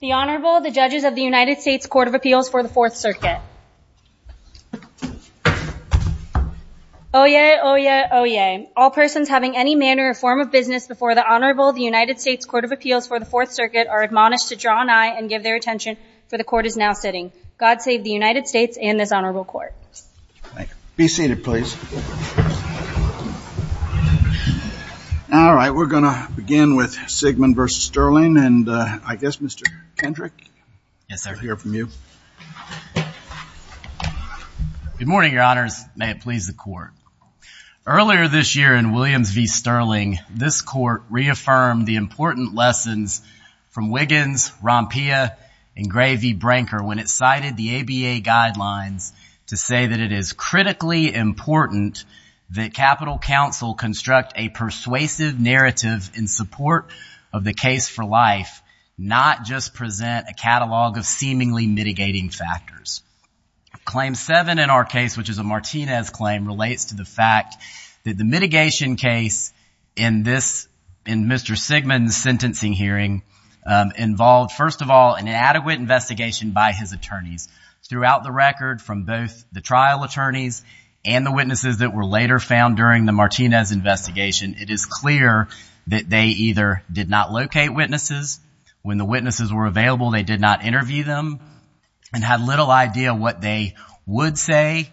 The Honorable the Judges of the United States Court of Appeals for the Fourth Circuit. Oh yeah, oh yeah, oh yeah. All persons having any manner or form of business before the Honorable the United States Court of Appeals for the Fourth Circuit are admonished to draw an eye and give their attention for the Court is now sitting. God save the United States and this Honorable Court. Be seated please. All right, we're gonna begin with Sigmon v. Stirling and I guess Mr. Kendrick. Yes sir. I'll hear from you. Good morning, Your Honors. May it please the Court. Earlier this year in Williams v. Stirling, this Court reaffirmed the important lessons from Wiggins, Rompia, and Gray v. Branker when it cited the ABA guidelines to say that it is critically important that Capitol Council construct a persuasive narrative in support of the case for life, not just present a catalog of seemingly mitigating factors. Claim 7 in our case, which is a Martinez claim, relates to the fact that the mitigation case in this, in Mr. Sigmon's sentencing hearing, involved first of all an inadequate investigation by his attorneys throughout the record from both the trial attorneys and the witnesses that were later found during the Martinez investigation. It is clear that they either did not locate witnesses when the witnesses were available, they did not interview them, and had little idea what they would say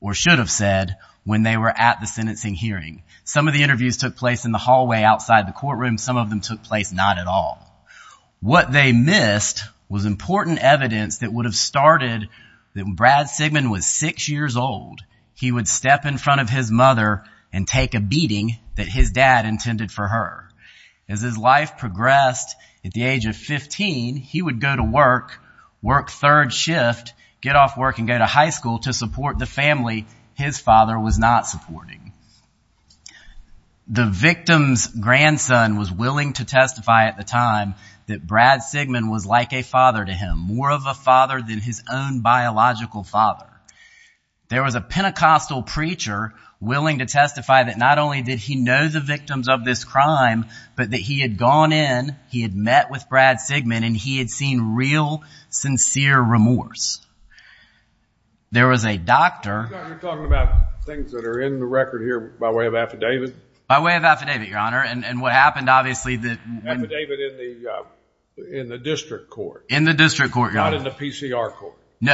or should have said when they were at the sentencing hearing. Some of the interviews took place in the hallway outside the courtroom, some of them took place not at all. What they missed was important evidence that would have started that when Brad Sigmon was six years old, he would step in front of his mother and take a beating that his dad intended for her. As his life progressed at the age of 15, he would go to work, work third shift, get off work and go to high school to support the family his father was not supporting. The victim's grandson was willing to testify at the time that Brad Sigmon was like a father to him, more of a father than his own psychological father. There was a Pentecostal preacher willing to testify that not only did he know the victims of this crime, but that he had gone in, he had met with Brad Sigmon, and he had seen real sincere remorse. There was a doctor... You're talking about things that are in the record here by way of affidavit? By way of affidavit, your honor, and what happened obviously that... Affidavit in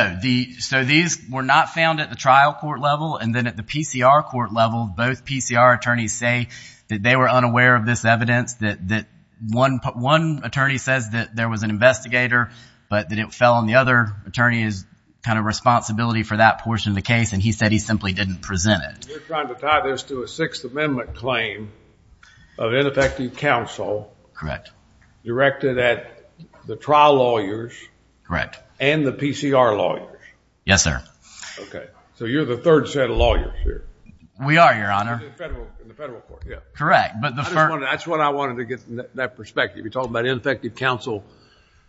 the So these were not found at the trial court level, and then at the PCR court level, both PCR attorneys say that they were unaware of this evidence, that one attorney says that there was an investigator, but that it fell on the other attorney's kind of responsibility for that portion of the case, and he said he simply didn't present it. You're trying to tie this to a Sixth Amendment claim of ineffective counsel. Correct. Directed at the trial lawyers. Correct. And the PCR lawyers. Yes, sir. Okay, so you're the third set of lawyers here. We are, your honor. Correct, but that's what I wanted to get that perspective. You're talking about ineffective counsel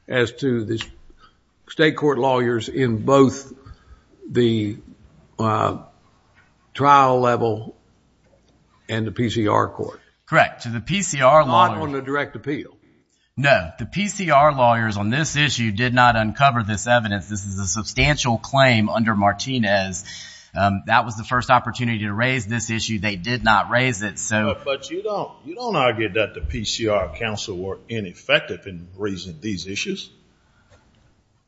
as to this state court lawyers in both the trial level and the PCR court. Correct, to the PCR lawyers. Not on the direct appeal. No, the substantial claim under Martinez, that was the first opportunity to raise this issue. They did not raise it, so... But you don't argue that the PCR counsel were ineffective in raising these issues?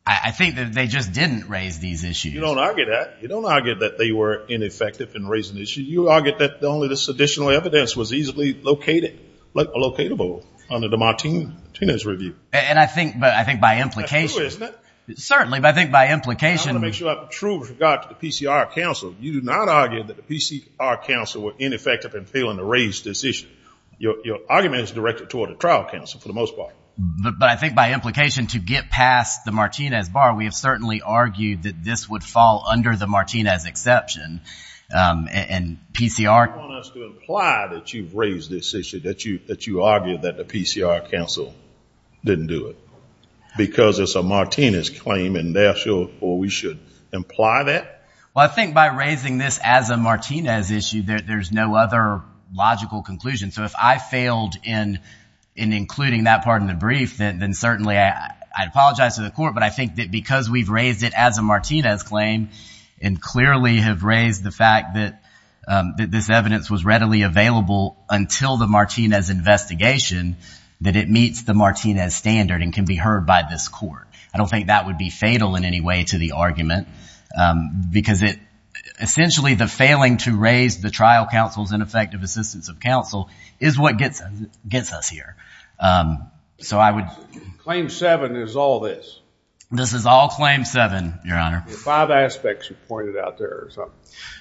I think that they just didn't raise these issues. You don't argue that. You don't argue that they were ineffective in raising the issue. You argue that only this additional evidence was easily located, locatable under the Martinez review. And I think, but I think by implication... That's true, isn't it? Certainly, but I think by implication... I want to make sure I have a true regard to the PCR counsel. You do not argue that the PCR counsel were ineffective in failing to raise this issue. Your argument is directed toward a trial counsel for the most part. But I think by implication to get past the Martinez bar, we have certainly argued that this would fall under the Martinez exception and PCR... You want us to imply that you've raised this issue, that you that you argued that the because it's a Martinez claim and therefore we should imply that? Well, I think by raising this as a Martinez issue, there's no other logical conclusion. So if I failed in including that part in the brief, then certainly I apologize to the court. But I think that because we've raised it as a Martinez claim and clearly have raised the fact that this evidence was readily available until the Martinez investigation, that it I don't think that would be fatal in any way to the argument because it essentially the failing to raise the trial counsel's ineffective assistance of counsel is what gets us here. So I would... Claim seven is all this? This is all claim seven, your honor. Five aspects you pointed out there.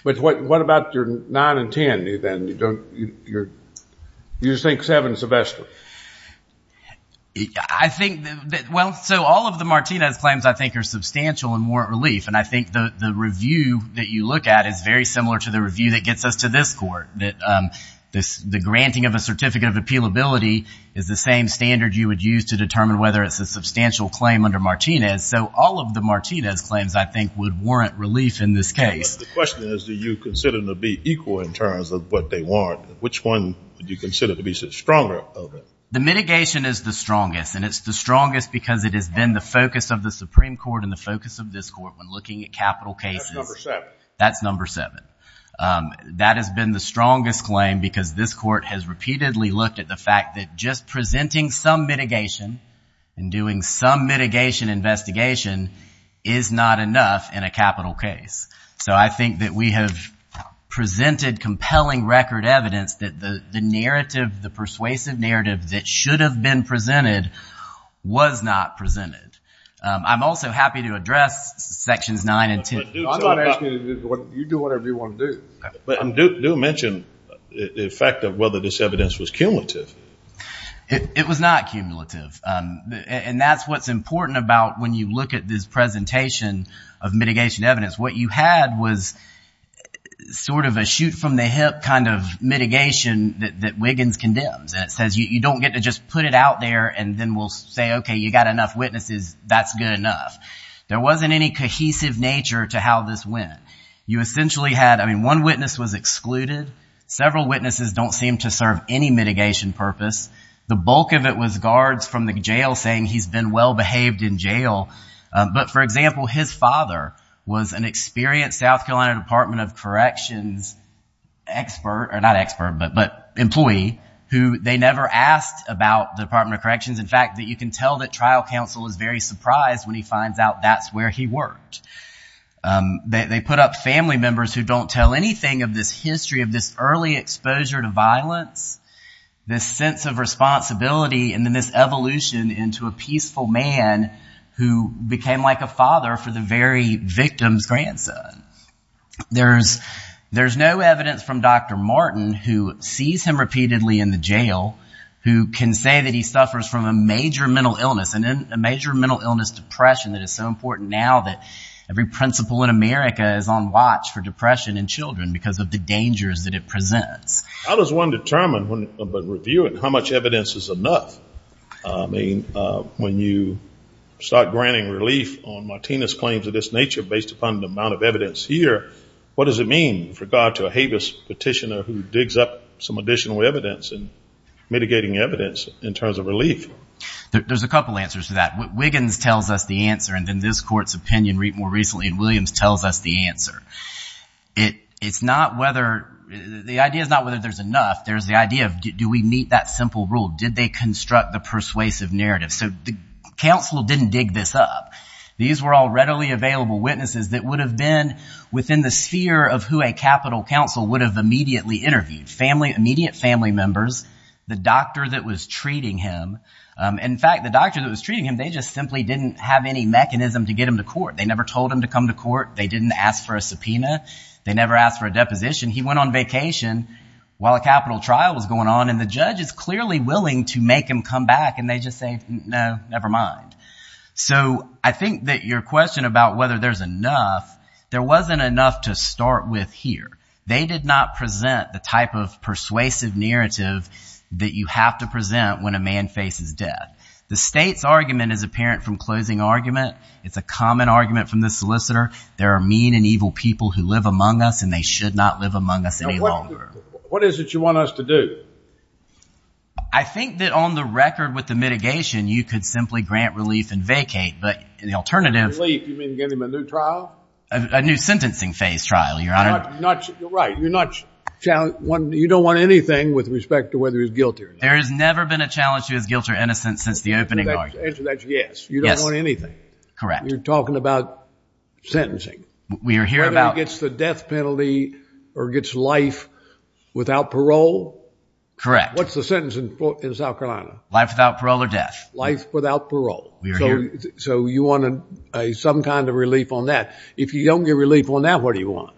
But what about your nine and ten then? You don't... You just think seven is the best one? I think... Well, so all of the Martinez claims, I think, are substantial and warrant relief and I think that the review that you look at is very similar to the review that gets us to this court. That the granting of a certificate of appealability is the same standard you would use to determine whether it's a substantial claim under Martinez. So all of the Martinez claims, I think, would warrant relief in this case. The question is, do you consider them to be equal in terms of what they warrant? Which one would you consider to be stronger? The mitigation is the strongest because it has been the focus of the Supreme Court and the focus of this court when looking at capital cases. That's number seven. That has been the strongest claim because this court has repeatedly looked at the fact that just presenting some mitigation and doing some mitigation investigation is not enough in a capital case. So I think that we have presented compelling record evidence that the narrative, the persuasive narrative, that should have been presented was not presented. I'm also happy to address sections nine and ten. I'm not asking you to do whatever you want to do. But do mention the effect of whether this evidence was cumulative. It was not cumulative and that's what's important about when you look at this presentation of mitigation evidence. What you had was sort of a shoot-from-the-hip kind of mitigation that Wiggins condemns. It doesn't mean you don't get to just put it out there and then we'll say, okay, you got enough witnesses. That's good enough. There wasn't any cohesive nature to how this went. You essentially had, I mean, one witness was excluded. Several witnesses don't seem to serve any mitigation purpose. The bulk of it was guards from the jail saying he's been well-behaved in jail. But for example, his father was an experienced South Carolina Department of Corrections expert, or not expert, but employee, who they never asked about the Department of Corrections. In fact, that you can tell that trial counsel is very surprised when he finds out that's where he worked. They put up family members who don't tell anything of this history, of this early exposure to violence, this sense of responsibility, and then this evolution into a peaceful man who became like a father for the very victim's repeatedly in the jail who can say that he suffers from a major mental illness and a major mental illness, depression, that is so important now that every principal in America is on watch for depression in children because of the dangers that it presents. How does one determine when reviewing how much evidence is enough? I mean, when you start granting relief on Martinez's claims of this nature based upon the amount of evidence here, what does it mean with a habeas petitioner who digs up some additional evidence and mitigating evidence in terms of relief? There's a couple answers to that. Wiggins tells us the answer and then this court's opinion more recently in Williams tells us the answer. It's not whether, the idea is not whether there's enough, there's the idea of do we meet that simple rule? Did they construct the persuasive narrative? So the counsel didn't dig this up. These were all readily available witnesses that would have been within the sphere of who a capital counsel would have immediately interviewed. Family, immediate family members, the doctor that was treating him. In fact, the doctor that was treating him, they just simply didn't have any mechanism to get him to court. They never told him to come to court. They didn't ask for a subpoena. They never asked for a deposition. He went on vacation while a capital trial was going on and the judge is clearly willing to make him come back and they just say, no, never mind. So I think that your there wasn't enough to start with here. They did not present the type of persuasive narrative that you have to present when a man faces death. The state's argument is apparent from closing argument. It's a common argument from the solicitor. There are mean and evil people who live among us and they should not live among us any longer. What is it you want us to do? I think that on the record with the mitigation, you could simply grant relief and vacate, but the alternative. Relief, you mean get him a new trial? A new sentencing phase trial, your honor. You're right. You're not, you don't want anything with respect to whether he's guilty or not. There has never been a challenge to his guilt or innocence since the opening argument. That's yes. You don't want anything. Correct. You're talking about sentencing. Whether he gets the death penalty or gets life without parole. Correct. What's the sentence in South Carolina? Life without parole. So you wanted some kind of relief on that. If you don't get relief on that, what do you want?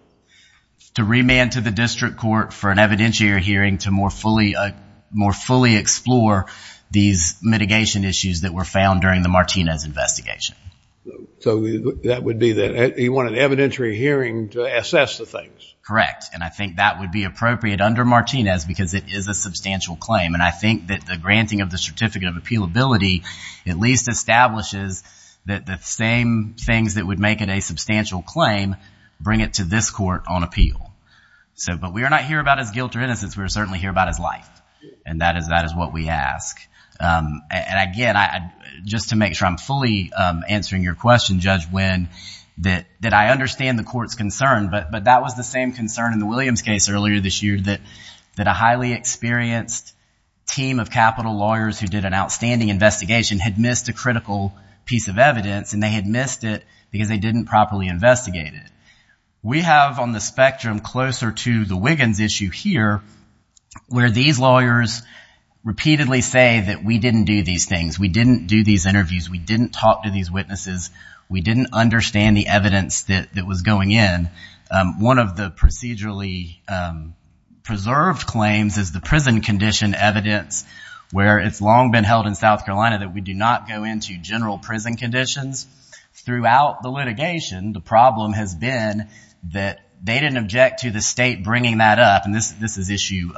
To remand to the district court for an evidentiary hearing to more fully explore these mitigation issues that were found during the Martinez investigation. So that would be that he wanted an evidentiary hearing to assess the things. Correct, and I think that would be appropriate under Martinez because it is a substantial claim and I think that the granting of the Certificate of Appealability at least establishes that the same things that would make it a substantial claim bring it to this court on appeal. So, but we are not here about his guilt or innocence. We're certainly here about his life and that is what we ask. And again, just to make sure I'm fully answering your question, Judge Wynn, that I understand the court's concern, but that was the same concern in the Williams case earlier this year that a highly experienced team of capital lawyers who did an outstanding investigation had missed a critical piece of evidence and they had missed it because they didn't properly investigate it. We have on the spectrum closer to the Wiggins issue here where these lawyers repeatedly say that we didn't do these things. We didn't do these interviews. We didn't talk to these witnesses. We didn't understand the evidence that was going in. One of the preserved claims is the prison condition evidence where it's long been held in South Carolina that we do not go into general prison conditions. Throughout the litigation, the problem has been that they didn't object to the state bringing that up, and this is issue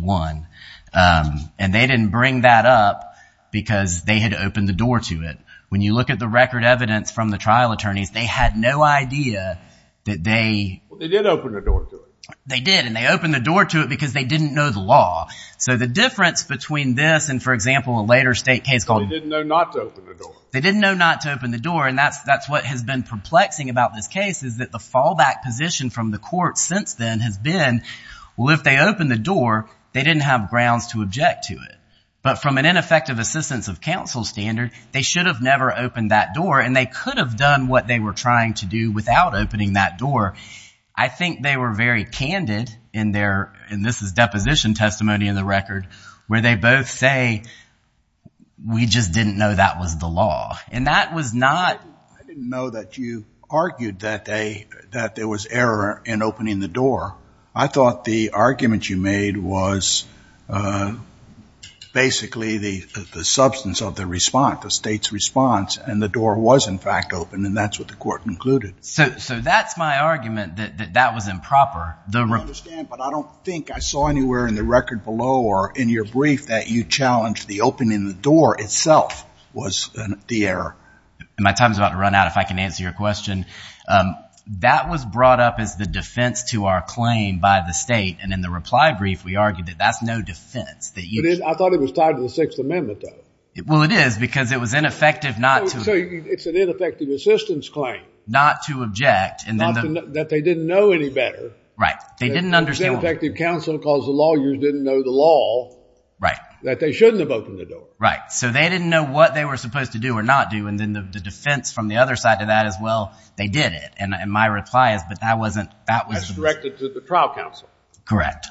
one, and they didn't bring that up because they had opened the door to it. When you look at the record evidence from the trial attorneys, they had no idea that they... They opened the door to it because they didn't know the law. So the difference between this and, for example, a later state case called... They didn't know not to open the door. They didn't know not to open the door, and that's what has been perplexing about this case is that the fallback position from the court since then has been, well, if they open the door, they didn't have grounds to object to it. But from an ineffective assistance of counsel standard, they should have never opened that door, and they could have done what they were trying to do without opening that door. I think they were very candid in their, and this is deposition testimony in the record, where they both say, we just didn't know that was the law, and that was not... I didn't know that you argued that there was error in opening the door. I thought the argument you made was basically the substance of the response, the state's response, and the door was, in fact, opened, and that's what the court concluded. So that's my argument, that that was improper. I understand, but I don't think I saw anywhere in the record below or in your brief that you challenged the opening of the door itself was the error. My time's about to run out if I can answer your question. That was brought up as the defense to our claim by the state, and in the reply brief, we argued that that's no defense. I thought it was tied to the Sixth Amendment, though. Well, it is, because it was ineffective not to... So it's an ineffective assistance claim. Not to object, and then... Not that they didn't know any better. Right. They didn't understand... It's ineffective counsel because the lawyers didn't know the law... Right. ...that they shouldn't have opened the door. Right. So they didn't know what they were supposed to do or not do, and then the defense from the other side of that is, well, they did it, and my reply is, but that wasn't... That's directed to the trial counsel. Correct.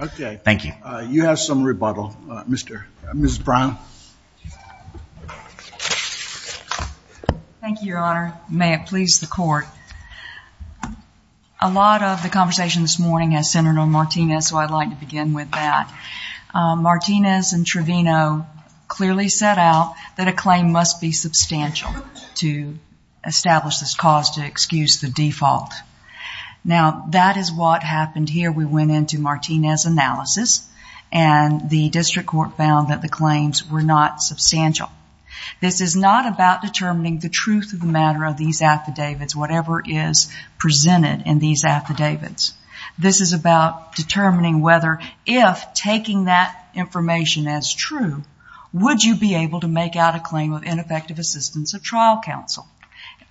Okay. Thank you. You have some rebuttal. Mrs. Brown. Thank you, Your Honor. May it please the court. A lot of the conversation this morning has centered on Martinez, so I'd like to begin with that. Martinez and Trevino clearly set out that a claim must be substantial to establish this cause to excuse the default. Now, that is what happened here. We went into Martinez' analysis, and the district court found that the claims were not substantial. This is not about determining the truth of the matter of these affidavits, whatever is presented in these affidavits. This is about determining whether, if taking that information as true, would you be able to make out a claim of ineffective assistance of trial counsel.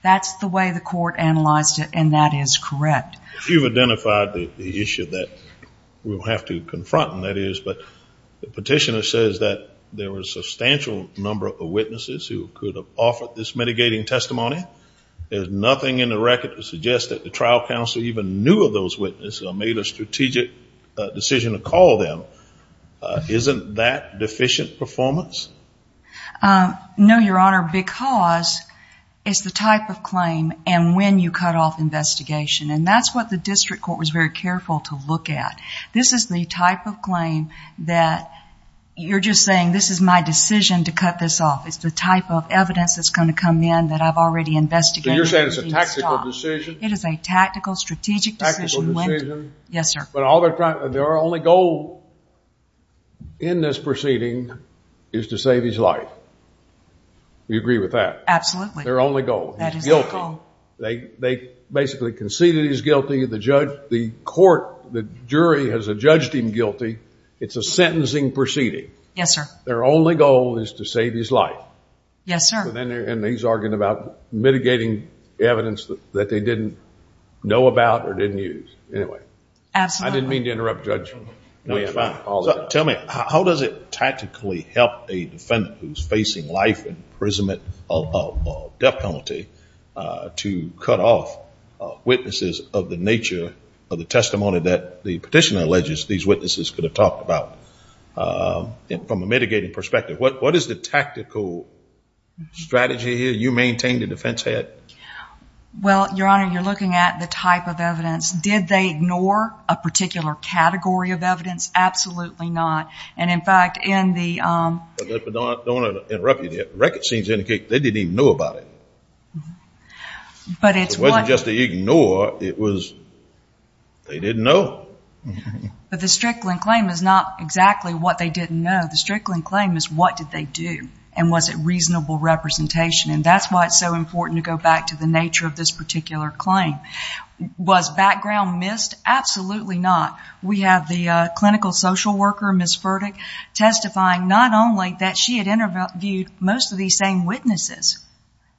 That's the way the court analyzed it, and that is correct. You've identified the issue that we'll have to confront, and that is, but the substantial number of witnesses who could have offered this mitigating testimony, there's nothing in the record to suggest that the trial counsel even knew of those witnesses or made a strategic decision to call them. Isn't that deficient performance? No, Your Honor, because it's the type of claim and when you cut off investigation, and that's what the district court was very careful to look at. This is the type of claim that you're just saying, this is my decision to cut this off. It's the type of evidence that's going to come in that I've already investigated. So you're saying it's a tactical decision? It is a tactical, strategic decision. Tactical decision? Yes, sir. But all they're trying... Their only goal in this proceeding is to save You agree with that? Absolutely. Their only goal. That is the goal. He's guilty. They basically conceded he's guilty. The court, the jury has judged him guilty. It's a sentencing proceeding. Yes, sir. Their only goal is to save his life. Yes, sir. Then he's arguing about mitigating evidence that they didn't know about or didn't use. Anyway. Absolutely. I didn't mean to interrupt, Judge. No, you're fine. Tell me, how does it tactically help a defendant who's facing life imprisonment or death penalty to cut off witnesses of the nature of the testimony that the petitioner alleges these witnesses could have talked about from a mitigating perspective? What is the tactical strategy here? You maintain the defense head. Well, Your Honor, you're looking at the type of evidence. Did they ignore a particular category of evidence? Absolutely not. In fact, in the... I don't want to interrupt you there. The record seems to indicate they didn't even know about it. But it's one... It wasn't just the ignore. It was they didn't know. But the Strickland claim is not exactly what they didn't know. The Strickland claim is what did they do and was it reasonable representation. That's why it's so important to go back to the nature of this particular claim. Was background missed? Absolutely not. We have the clinical social worker, Ms. Furtick, testifying not only that she had interviewed most of these same witnesses,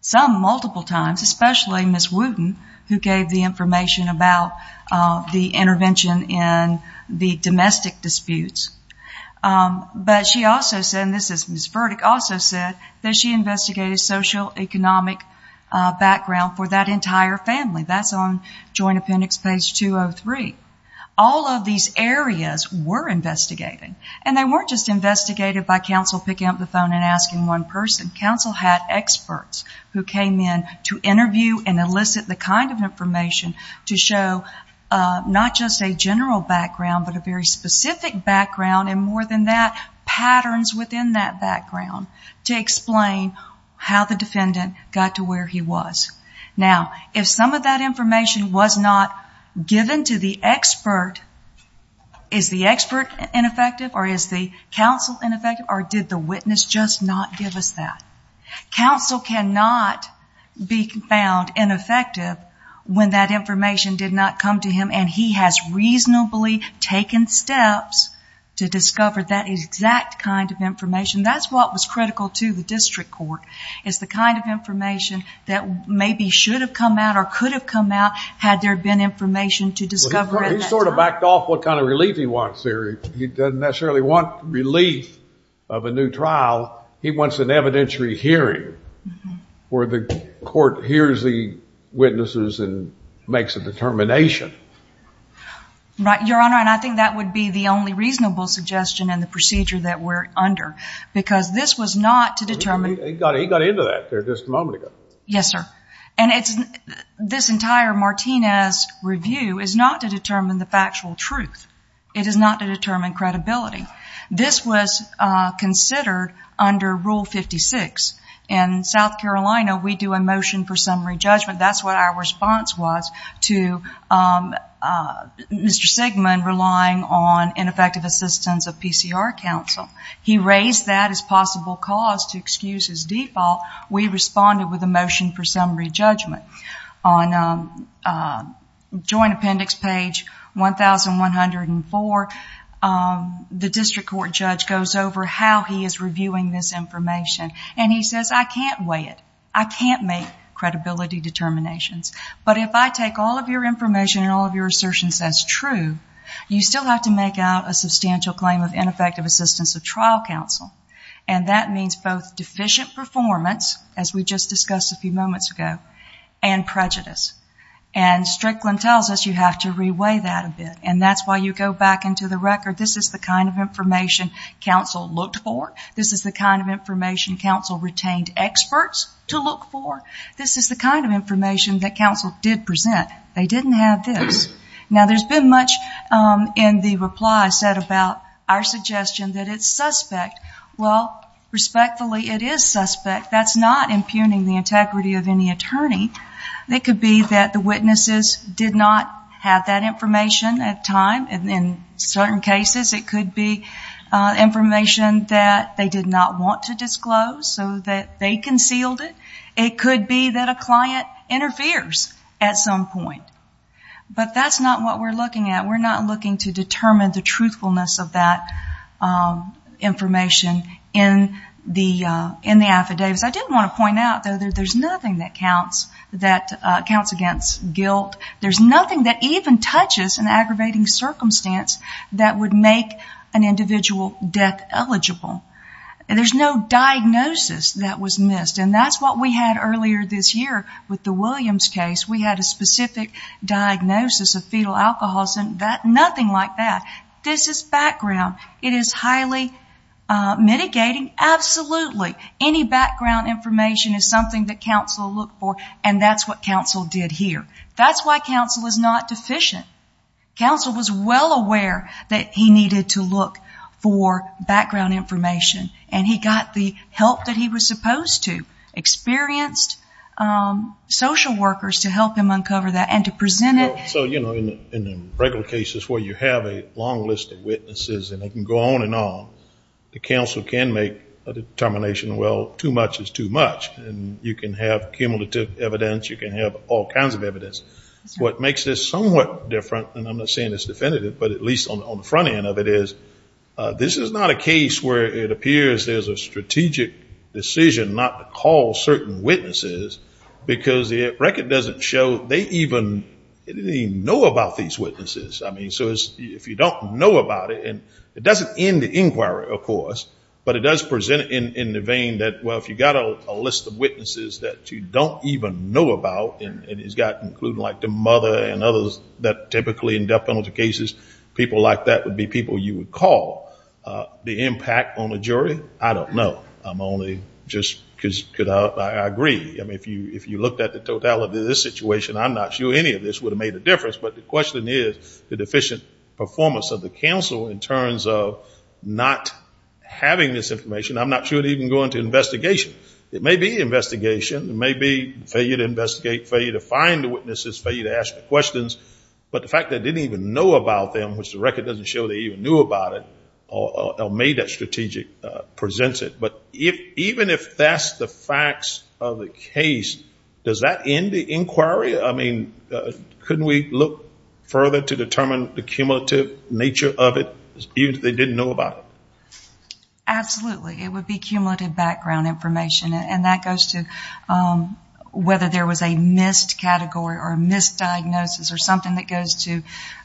some multiple times, especially Ms. Wooten, who gave the information about the intervention in the domestic disputes. But she also said, and this is Ms. Furtick, also said that she investigated social economic background for that entire family. That's on Joint Appendix page 203. All of these areas were investigated. And they weren't just investigated by counsel picking up the phone and asking one person. Counsel had experts who came in to interview and elicit the kind of information to show not just a general background, but a very specific background and more than that, patterns within that background to explain how the defendant got to where he was. Now, if some of that information was not given to the expert, is the expert ineffective or is the counsel ineffective or did the witness just not give us that? Counsel cannot be found ineffective when that information did not come to him and he has reasonably taken steps to discover that exact kind of information. That's what was critical to the district court, is the kind of information that maybe should have come out or could have come out had there been information to discover at that time. He sort of backed off what kind of relief he wants there. He doesn't necessarily want relief of a new trial. He wants an evidentiary hearing where the court hears the witnesses and makes a determination. Right. Your Honor, and I think that would be the only reasonable suggestion and the procedure that we're under. Because this was not to determine- He got into that there just a moment ago. Yes, sir. This entire Martinez review is not to determine the factual truth. It is not to determine credibility. This was considered under Rule 56. In South Carolina, we do a motion for summary judgment. That's what our response was to Mr. Sigmund relying on ineffective assistance of PCR counsel. He raised that as possible cause to excuse his default. We responded with a motion for summary judgment. On joint appendix page 1104, the district court judge goes over how he is reviewing this information. He says, I can't weigh it. I can't make credibility determinations. But if I take all of your information and all of your assertions as true, you still have to make out a substantial claim of ineffective assistance of trial counsel. And that means both deficient performance, as we just discussed a few moments ago, and prejudice. And Strickland tells us you have to reweigh that a bit. And that's why you go back into the record. This is the kind of information counsel looked for. This is the kind of information counsel retained experts to look for. This is the kind of information that counsel did present. They didn't have this. Now, there's been much in the reply set about our suggestion that it's suspect. Well, respectfully, it is suspect. That's not impugning the integrity of any attorney. It could be that the witnesses did not have that information at time. And in certain cases, it could be information that they did not want to disclose, so that they concealed it. It could be that a client interferes at some point. But that's not what we're looking at. We're not looking to determine the truthfulness of that information in the affidavits. I did want to point out, though, that there's nothing that counts against guilt. There's nothing that even touches an aggravating circumstance that would make an individual death eligible. There's no diagnosis that was missed. And that's what we had earlier this year with the Williams case. We had a specific diagnosis of fetal alcoholism. Nothing like that. This is background. It is highly mitigating, absolutely. Any background information is something that counsel look for. And that's what counsel did here. That's why counsel is not deficient. Counsel was well aware that he needed to look for background information. And he got the help that he was supposed to. Experienced social workers to help him uncover that and to present it. So, you know, in the regular cases where you have a long list of witnesses, and it can go on and on, the counsel can make a determination, well, too much is too much. And you can have cumulative evidence. You can have all kinds of evidence. What makes this somewhat different, and I'm not saying it's definitive, but at least on the front end of it is, this is not a case where it appears there's a strategic decision not to call certain witnesses, because the record doesn't show they even know about these witnesses. I mean, so if you don't know about it, and it doesn't end the inquiry, of course, but it does present in the vein that, well, if you've got a list of witnesses that you don't even know about, and it's got to include like the mother and others that typically in death penalty cases, people like that would be people you would call. The impact on the jury, I don't know. I'm only just, because I agree. I mean, if you looked at the totality of this situation, I'm not sure any of this would have made a difference. But the question is the deficient performance of the counsel in terms of not having this information. I'm not sure they even go into investigation. It may be investigation. It may be failure to investigate, failure to find the witnesses, failure to ask the questions. But the fact they didn't even know about them, which the record doesn't show they even knew about it, or made that strategic, presents it. But even if that's the facts of the case, does that end the inquiry? I mean, couldn't we look further to determine the cumulative nature of it, even if they didn't know about it? Absolutely. It would be cumulative background information. And that goes to whether there was a missed category or a misdiagnosis or something that goes to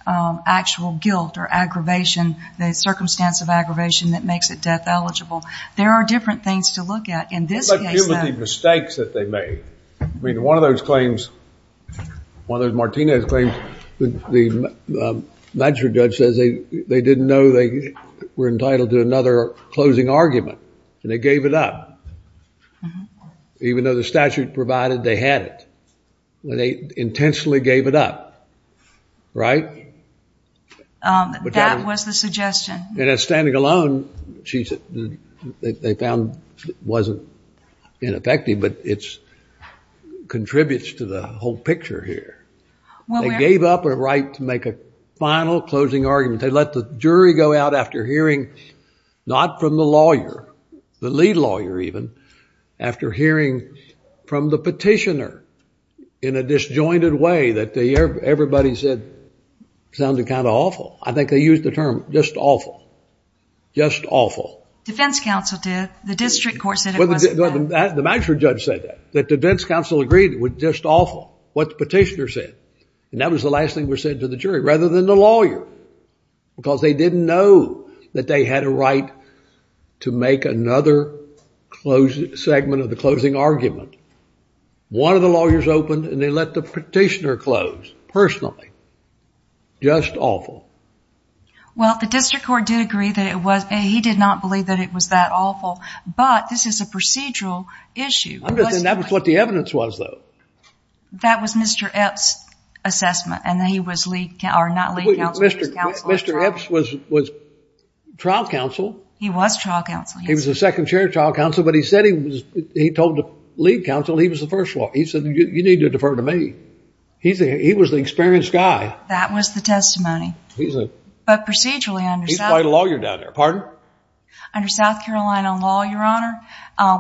actual guilt or aggravation, the circumstance of aggravation that makes it death eligible. There are different things to look at. In this case, though. What about cumulative mistakes that they made? I mean, one of those Martinez claims, the magistrate judge says they didn't know they were entitled to another closing argument. And they gave it up. Even though the statute provided they had it. They intentionally gave it up. Right? That was the suggestion. And at Standing Alone, they found it wasn't ineffective, but it contributes to the whole picture here. They gave up a right to make a final closing argument. They let the jury go out after hearing, not from the lawyer, the lead lawyer even, after hearing from the petitioner in a disjointed way that everybody said sounded kind of awful. I think they used the term, just awful. Just awful. Defense counsel did. The district court said it wasn't... The magistrate judge said that. That defense counsel agreed it was just awful. What the petitioner said. And that was the last thing that was said to the jury, rather than the lawyer. Because they didn't know that they had a right to make another segment of the closing argument. One of the lawyers opened and they let the petitioner close, personally. Just awful. Well, the district court did agree that it was... he did not believe that it was that awful, but this is a procedural issue. I'm just saying that was what the evidence was, though. That was Mr. Epps' assessment. And he was lead... or not lead counsel, he was counsel of trial. Mr. Epps was trial counsel. He was trial counsel. He was the second chair of trial counsel, but he said he was, he told the lead counsel he was the first lawyer. He said, you need to defer to me. He was the experienced guy. That was the testimony. But procedurally under South... He's quite a lawyer down there. Pardon? Under South Carolina law, Your Honor,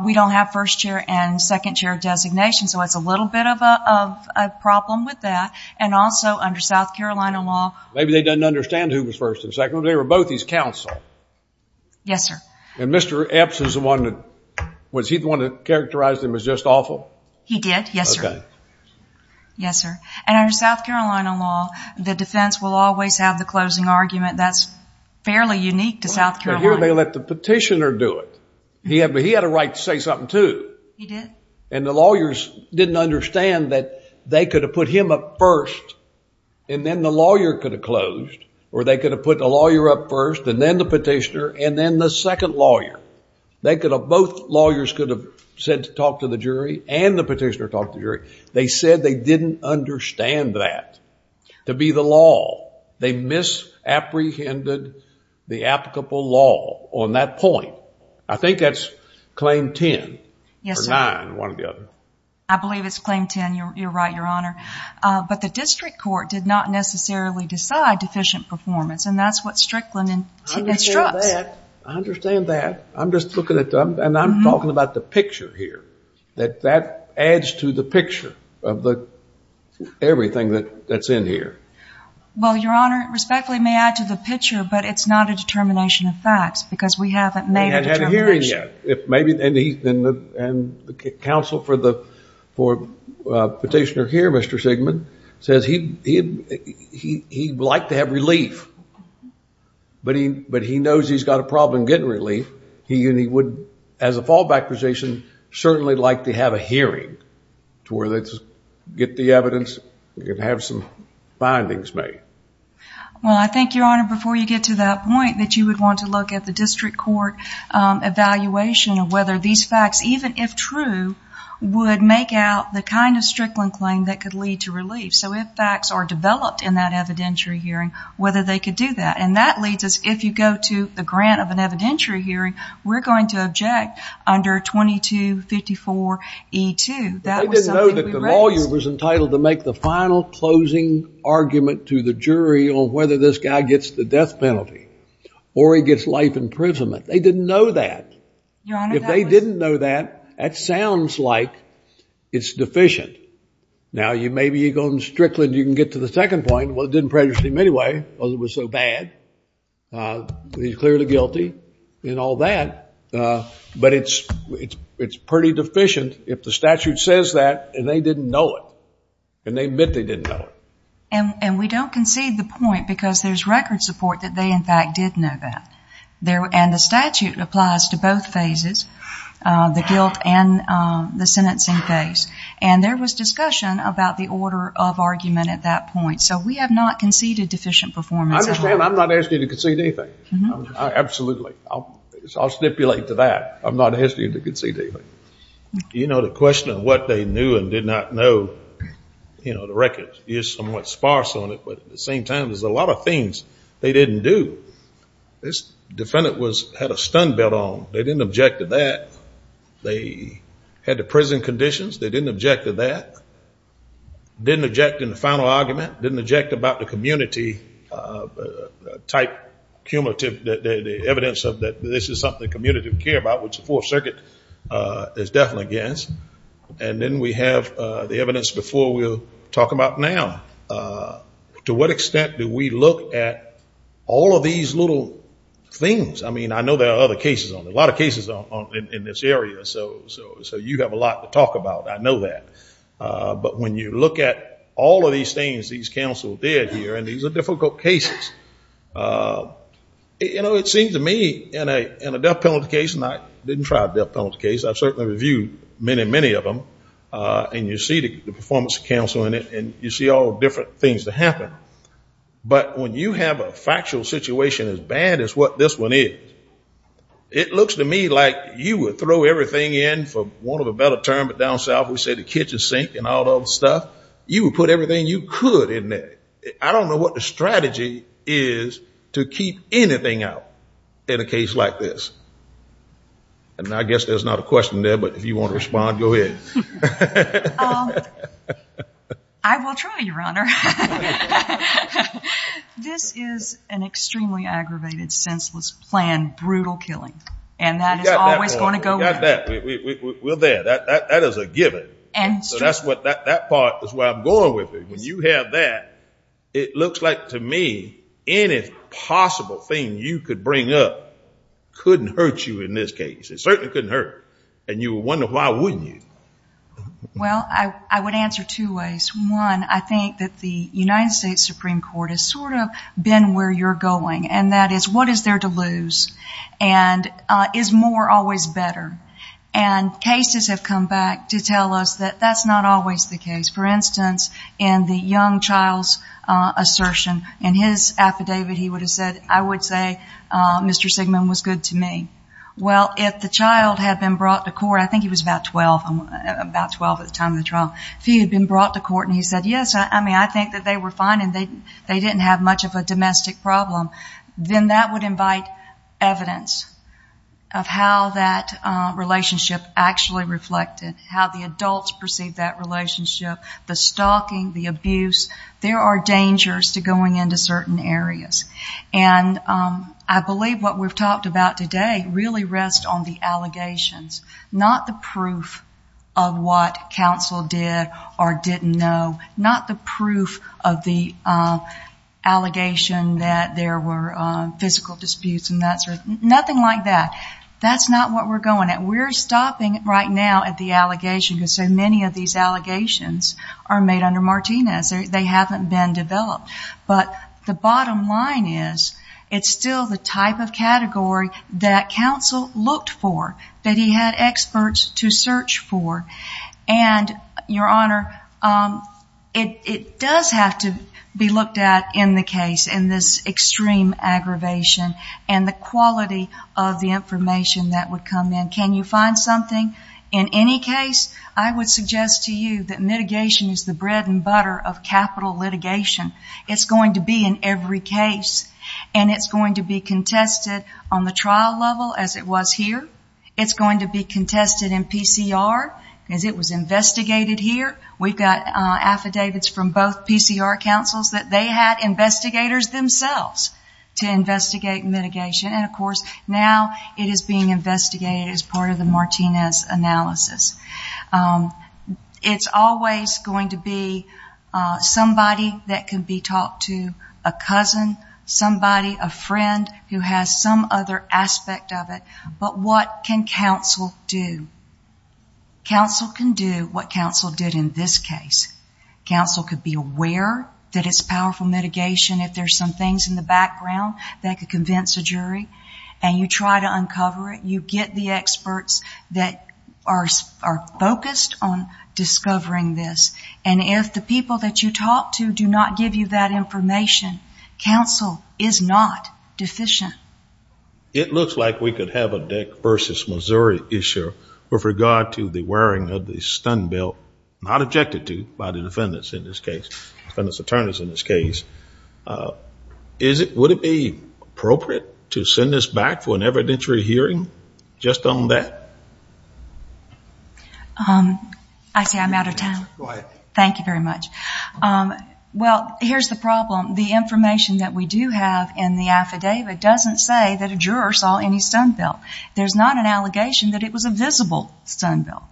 we don't have first chair and second chair designation, so it's a little bit of a problem with that. And also, under South Carolina law... Maybe they didn't understand who was first and second, but they were both his counsel. Yes, sir. And Mr. Epps is the one that... was he the one that characterized him as just awful? He did, yes, sir. Okay. Yes, sir. And under South Carolina law, the defense will always have the closing argument that's fairly unique to South Carolina. But here they let the petitioner do it. He had a right to say something, too. He did? He did. And the lawyers didn't understand that they could have put him up first, and then the lawyer could have closed, or they could have put the lawyer up first, and then the petitioner, and then the second lawyer. They could have... Both lawyers could have said to talk to the jury, and the petitioner talked to the jury. They said they didn't understand that to be the law. They misapprehended the applicable law on that point. I think that's claim ten. Yes, sir. Or nine. One or the other. I believe it's claim ten. You're right, Your Honor. But the district court did not necessarily decide deficient performance, and that's what Strickland instructs. I understand that. I understand that. I'm just looking at the... and I'm talking about the picture here, that that adds to the picture of the... everything that's in here. Well, Your Honor, respectfully, may I add to the picture, but it's not a determination of facts, because we haven't made a determination. And the counsel for the petitioner here, Mr. Sigmund, says he'd like to have relief, but he knows he's got a problem getting relief. He would, as a fallback position, certainly like to have a hearing to where they get the evidence and have some findings made. Well, I think, Your Honor, before you get to that point, that you would want to look at the district court evaluation of whether these facts, even if true, would make out the kind of Strickland claim that could lead to relief. So if facts are developed in that evidentiary hearing, whether they could do that. And that leads us, if you go to the grant of an evidentiary hearing, we're going to object under 2254E2. That was something we raised. They didn't know that the lawyer was entitled to make the final closing argument to the self-imprisonment. They didn't know that. Your Honor, that was... If they didn't know that, that sounds like it's deficient. Now, maybe you go to Strickland, you can get to the second point, well, it didn't prejudice him anyway, because it was so bad. He's clearly guilty and all that, but it's pretty deficient if the statute says that and they didn't know it, and they admit they didn't know it. And we don't concede the point, because there's record support that they, in fact, did know that. And the statute applies to both phases, the guilt and the sentencing phase. And there was discussion about the order of argument at that point. So we have not conceded deficient performance at all. I understand. I'm not asking you to concede anything. Absolutely. I'll stipulate to that. I'm not asking you to concede anything. You know, the question of what they knew and did not know, you know, the record is somewhat sparse on it, but at the same time, there's a lot of things they didn't do. This defendant had a stun belt on. They didn't object to that. They had the prison conditions. They didn't object to that. Didn't object in the final argument. Didn't object about the community-type cumulative evidence that this is something the community would care about, which the Fourth Circuit is definitely against. And then we have the evidence before we'll talk about now. To what extent do we look at all of these little things? I mean, I know there are other cases on it, a lot of cases in this area, so you have a lot to talk about. I know that. But when you look at all of these things these counsel did here, and these are difficult cases, you know, it seems to me in a death penalty case, and I didn't try a death penalty case, I've certainly reviewed many, many of them, and you see the performance of counsel in it, and you see all different things that happen. But when you have a factual situation as bad as what this one is, it looks to me like you would throw everything in for want of a better term, but down south we say the kitchen sink and all that other stuff. You would put everything you could in there. I don't know what the strategy is to keep anything out in a case like this. And I guess there's not a question there, but if you want to respond, go ahead. I will try, Your Honor. This is an extremely aggravated, senseless plan, brutal killing, and that is always going to go with it. We got that. We're there. That is a given. So that's what, that part is where I'm going with it. When you have that, it looks like to me any possible thing you could bring up couldn't hurt you in this case. It certainly couldn't hurt. And you would wonder why wouldn't it? Well, I would answer two ways. One, I think that the United States Supreme Court has sort of been where you're going, and that is, what is there to lose? And is more always better? And cases have come back to tell us that that's not always the case. For instance, in the young child's assertion, in his affidavit he would have said, I would say Mr. Sigmund was good to me. Well, if the child had been brought to court, I think he was about 12, about 12 at the time of the trial, if he had been brought to court and he said, yes, I mean, I think that they were fine and they didn't have much of a domestic problem, then that would invite evidence of how that relationship actually reflected, how the adults perceived that relationship, the stalking, the abuse. There are dangers to going into certain areas. And I believe what we've talked about today really rests on the allegations, not the proof of what counsel did or didn't know, not the proof of the allegation that there were physical disputes and that sort of, nothing like that. That's not what we're going at. We're stopping right now at the allegation, because so many of these allegations are made under Martinez. They haven't been developed. But the bottom line is, it's still the type of category that counsel looked for, that he had experts to search for. And Your Honor, it does have to be looked at in the case in this extreme aggravation and the quality of the information that would come in. Can you find something? In any case, I would suggest to you that mitigation is the bread and butter of capital litigation. It's going to be in every case. And it's going to be contested on the trial level, as it was here. It's going to be contested in PCR, as it was investigated here. We've got affidavits from both PCR counsels that they had investigators themselves to investigate mitigation. And of course, now it is being investigated as part of the Martinez analysis. It's always going to be somebody that can be talked to, a cousin, somebody, a friend who has some other aspect of it. But what can counsel do? Counsel can do what counsel did in this case. Counsel could be aware that it's powerful mitigation, if there's some things in the background that could convince a jury, and you try to uncover it. You get the experts that are focused on discovering this. And if the people that you talk to do not give you that information, counsel is not deficient. It looks like we could have a Dick versus Missouri issue with regard to the wearing of the stun belt, not objected to by the defendants in this case, defendants attorneys in this case. Would it be appropriate to send this back for an evidentiary hearing just on that? I see I'm out of time. Thank you very much. Well, here's the problem. The information that we do have in the affidavit doesn't say that a juror saw any stun belt. There's not an allegation that it was a visible stun belt.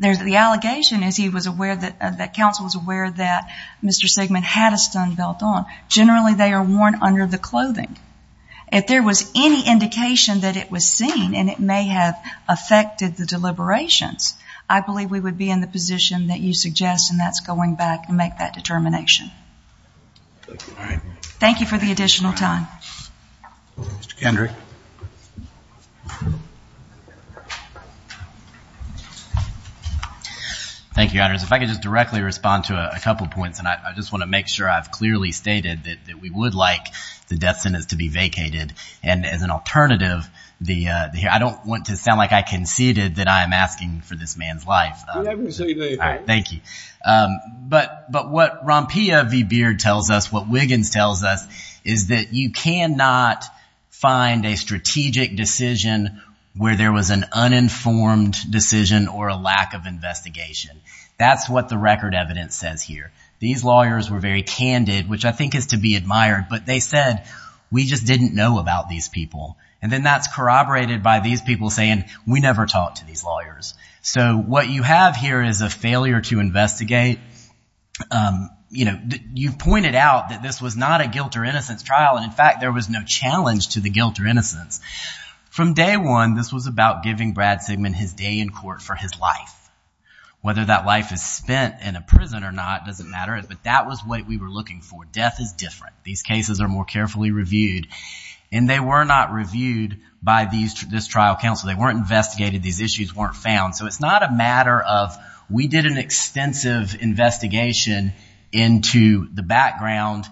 The allegation is that counsel was aware that Mr. Sigmund had a stun belt on. Generally, they are worn under the clothing. If there was any indication that it was seen, and it may have affected the deliberations, I believe we would be in the position that you suggest, and that's going back and make that determination. Thank you for the additional time. Mr. Kendrick. Thank you, Your Honors. If I could just directly respond to a couple of points, and I just want to make sure I've clearly stated that we would like the death sentence to be vacated. And as an alternative, I don't want to sound like I conceded that I am asking for this man's life. You haven't conceded anything. All right. Thank you. But what Rompilla v. Beard tells us, what Wiggins tells us, is that you cannot find a strategic decision where there was an uninformed decision or a lack of investigation. That's what the record evidence says here. These lawyers were very candid, which I think is to be admired, but they said, we just didn't know about these people. And then that's corroborated by these people saying, we never talked to these lawyers. So what you have here is a failure to investigate. You pointed out that this was not a guilt or innocence trial, and in fact, there was no challenge to the guilt or innocence. From day one, this was about giving Brad Sigmund his day in court for his life. Whether that life is spent in a prison or not doesn't matter, but that was what we were looking for. Death is different. These cases are more carefully reviewed, and they were not reviewed by this trial counsel. They weren't investigated. These issues weren't found. So it's not a matter of, we did an extensive investigation into the background,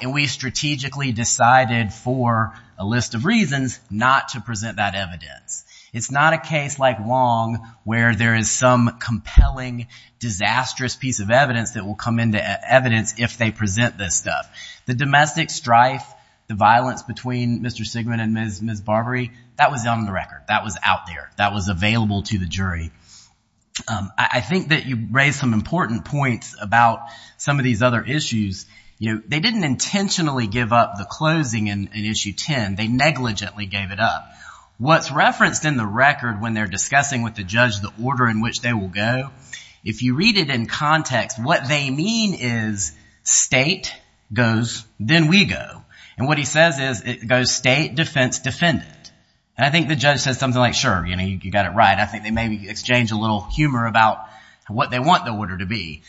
and we strategically decided for a list of reasons not to present that evidence. It's not a case like Wong, where there is some compelling, disastrous piece of evidence that will come into evidence if they present this stuff. The domestic strife, the violence between Mr. Sigmund and Ms. Barbary, that was on the record. That was out there. That was available to the jury. I think that you raised some important points about some of these other issues. They didn't intentionally give up the closing in Issue 10. They negligently gave it up. What's referenced in the record when they're discussing with the judge the order in which they will go, if you read it in context, what they mean is, state goes, then we go. What he says is, it goes state, defense, defendant. I think the judge says something like, sure, you got it right. I think they maybe exchanged a little humor about what they want the order to be.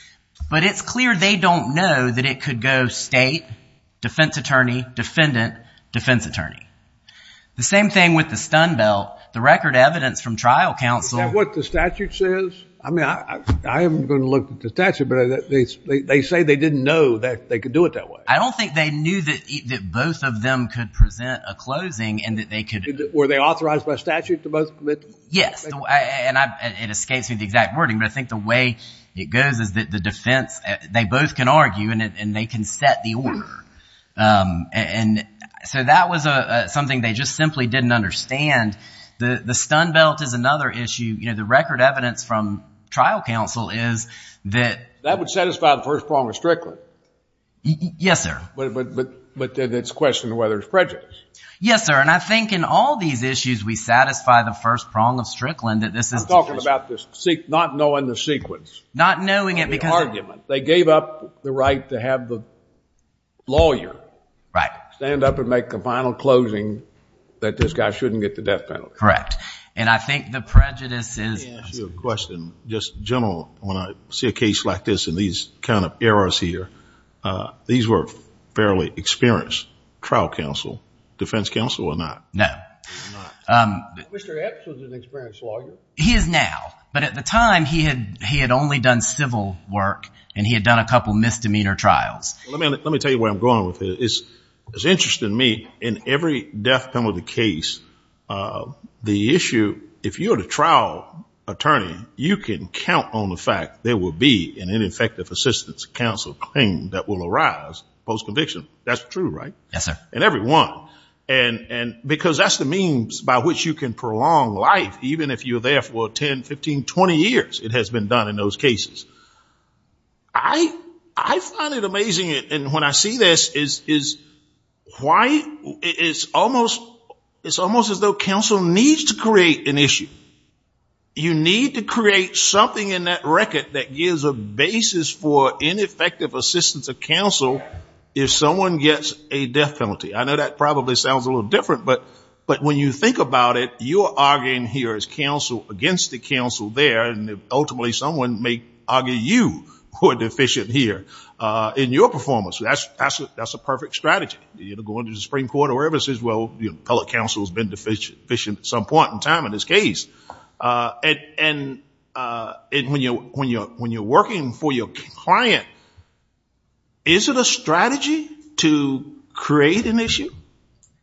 But it's clear they don't know that it could go state, defense attorney, defendant, defense attorney. The same thing with the stun belt. The record evidence from trial counsel- Is that what the statute says? I mean, I am going to look at the statute, but they say they didn't know that they could do it that way. I don't think they knew that both of them could present a closing and that they could- Were they authorized by statute to both commit? Yes. It escapes me the exact wording, but I think the way it goes is that the defense, they both can argue and they can set the order. That was something they just simply didn't understand. The stun belt is another issue. The record evidence from trial counsel is that- That would satisfy the first prong of Strickland. Yes, sir. But then it's a question of whether it's prejudice. Yes, sir. And I think in all these issues, we satisfy the first prong of Strickland that this is- I'm talking about not knowing the sequence. Not knowing it because- The argument. They gave up the right to have the lawyer stand up and make a final closing that this guy shouldn't get the death penalty. Correct. And I think the prejudice is- Let me ask you a question. Just general, when I see a case like this and these kind of errors here, these were fairly experienced trial counsel. Defense counsel or not? No. They're not. Mr. Epps was an experienced lawyer. He is now, but at the time, he had only done civil work and he had done a couple misdemeanor trials. Let me tell you where I'm going with this. It's interesting to me, in every death penalty case, the issue, if you're the trial attorney, you can count on the fact there will be an ineffective assistance counsel claim that will arise post-conviction. That's true, right? Yes, sir. In every one. Because that's the means by which you can prolong life, even if you're there for 10, 15, 20 years, it has been done in those cases. I find it amazing, and when I see this, it's almost as though counsel needs to create an issue. You need to create something in that record that gives a basis for ineffective assistance of counsel if someone gets a death penalty. I know that probably sounds a little different, but when you think about it, you're arguing here as counsel against the counsel there, and ultimately someone may argue you were deficient here in your performance. That's a perfect strategy. You're going to the Supreme Court or whoever says, well, the appellate counsel has been deficient at some point in time in this case. When you're working for your client, is it a strategy to create an issue?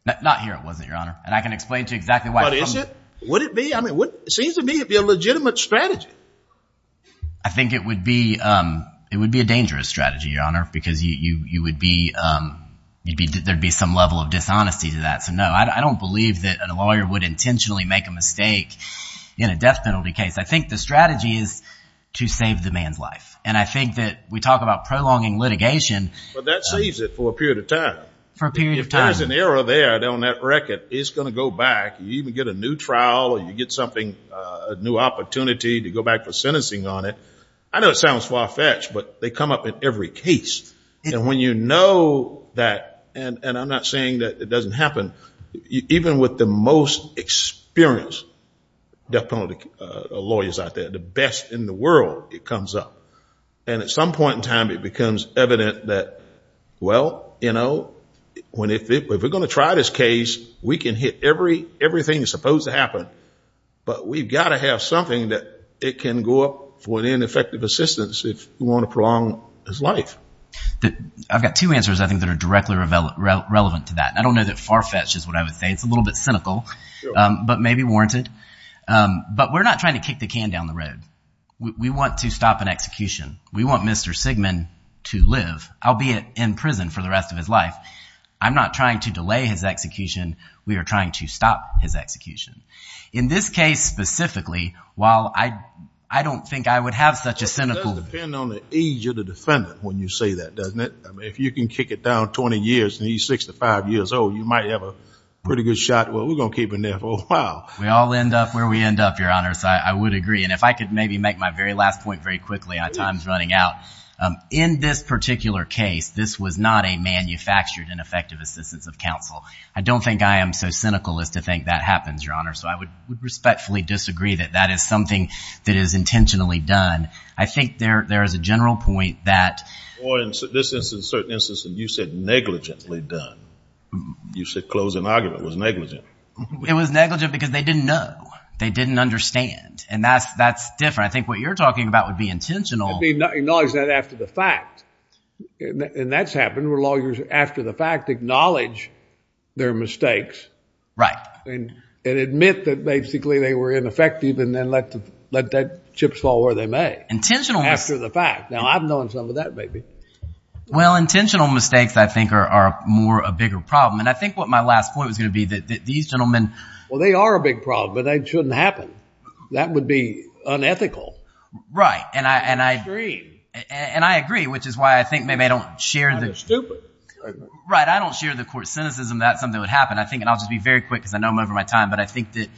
Not here, it wasn't, Your Honor. I can explain to you exactly why. Is it? Would it be? It seems to me it would be a legitimate strategy. I think it would be a dangerous strategy, Your Honor, because there would be some level of dishonesty to that. I don't believe that a lawyer would intentionally make a mistake in a death penalty case. I think the strategy is to save the man's life. And I think that we talk about prolonging litigation. That saves it for a period of time. For a period of time. If there's an error there on that record, it's going to go back. You even get a new trial or you get something, a new opportunity to go back for sentencing on it. I know it sounds far-fetched, but they come up in every case, and when you know that, and I'm not saying that it doesn't happen, even with the most experienced death penalty lawyers out there, the best in the world, it comes up. And at some point in time, it becomes evident that, well, you know, if we're going to try this case, we can hit everything that's supposed to happen, but we've got to have something that it can go up for ineffective assistance if we want to prolong his life. I've got two answers, I think, that are directly relevant to that, and I don't know that far-fetched is what I would say. It's a little bit cynical, but maybe warranted. But we're not trying to kick the can down the road. We want to stop an execution. We want Mr. Sigmund to live, albeit in prison, for the rest of his life. I'm not trying to delay his execution. We are trying to stop his execution. In this case, specifically, while I don't think I would have such a cynical- It does depend on the age of the defendant when you say that, doesn't it? If you can kick it down 20 years and he's 65 years old, you might have a pretty good shot. Well, we're going to keep him there for a while. We all end up where we end up, Your Honors. I would agree. And if I could maybe make my very last point very quickly, our time's running out. In this particular case, this was not a manufactured ineffective assistance of counsel. I don't think I am so cynical as to think that happens, Your Honor. So I would respectfully disagree that that is something that is intentionally done. I think there is a general point that- Or in this instance, in certain instances, you said negligently done. You said closing argument was negligent. It was negligent because they didn't know. They didn't understand. And that's different. I think what you're talking about would be intentional- Acknowledge that after the fact. And that's happened where lawyers, after the fact, acknowledge their mistakes and admit that basically they were ineffective and then let that chips fall where they may. Intentional mistakes- After the fact. Now, I've known some of that, maybe. Well, intentional mistakes, I think, are more a bigger problem. And I think what my last point was going to be that these gentlemen- Well, they are a big problem, but they shouldn't happen. That would be unethical. Right. And I- And extreme. And I agree, which is why I think maybe I don't share the- I'm just stupid. Right. I don't share the court cynicism that something would happen. I think, and I'll just be very quick because I know I'm over my time. But I think that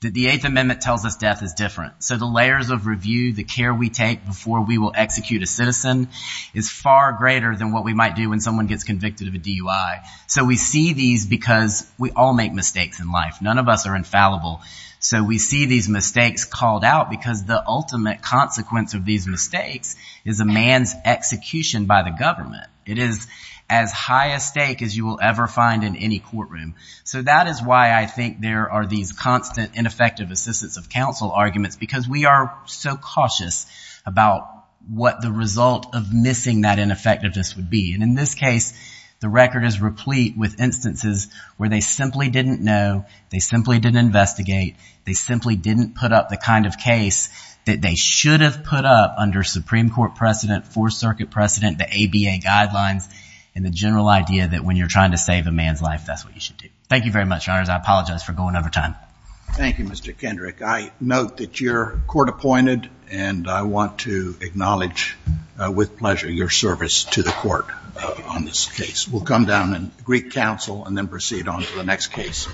the Eighth Amendment tells us death is different. So the layers of review, the care we take before we will execute a citizen is far greater than what we might do when someone gets convicted of a DUI. So we see these because we all make mistakes in life. None of us are infallible. So we see these mistakes called out because the ultimate consequence of these mistakes is a man's execution by the government. It is as high a stake as you will ever find in any courtroom. So that is why I think there are these constant ineffective assistance of counsel arguments because we are so cautious about what the result of missing that ineffectiveness would be. And in this case, the record is replete with instances where they simply didn't know. They simply didn't investigate. They simply didn't put up the kind of case that they should have put up under Supreme Court precedent, Fourth Circuit precedent, the ABA guidelines, and the general idea that when you're trying to save a man's life, that's what you should do. Thank you very much, Your Honors. I apologize for going over time. Thank you, Mr. Kendrick. I note that you're court appointed, and I want to acknowledge with pleasure your service to the court on this case. We'll come down and greet counsel and then proceed on to the next case.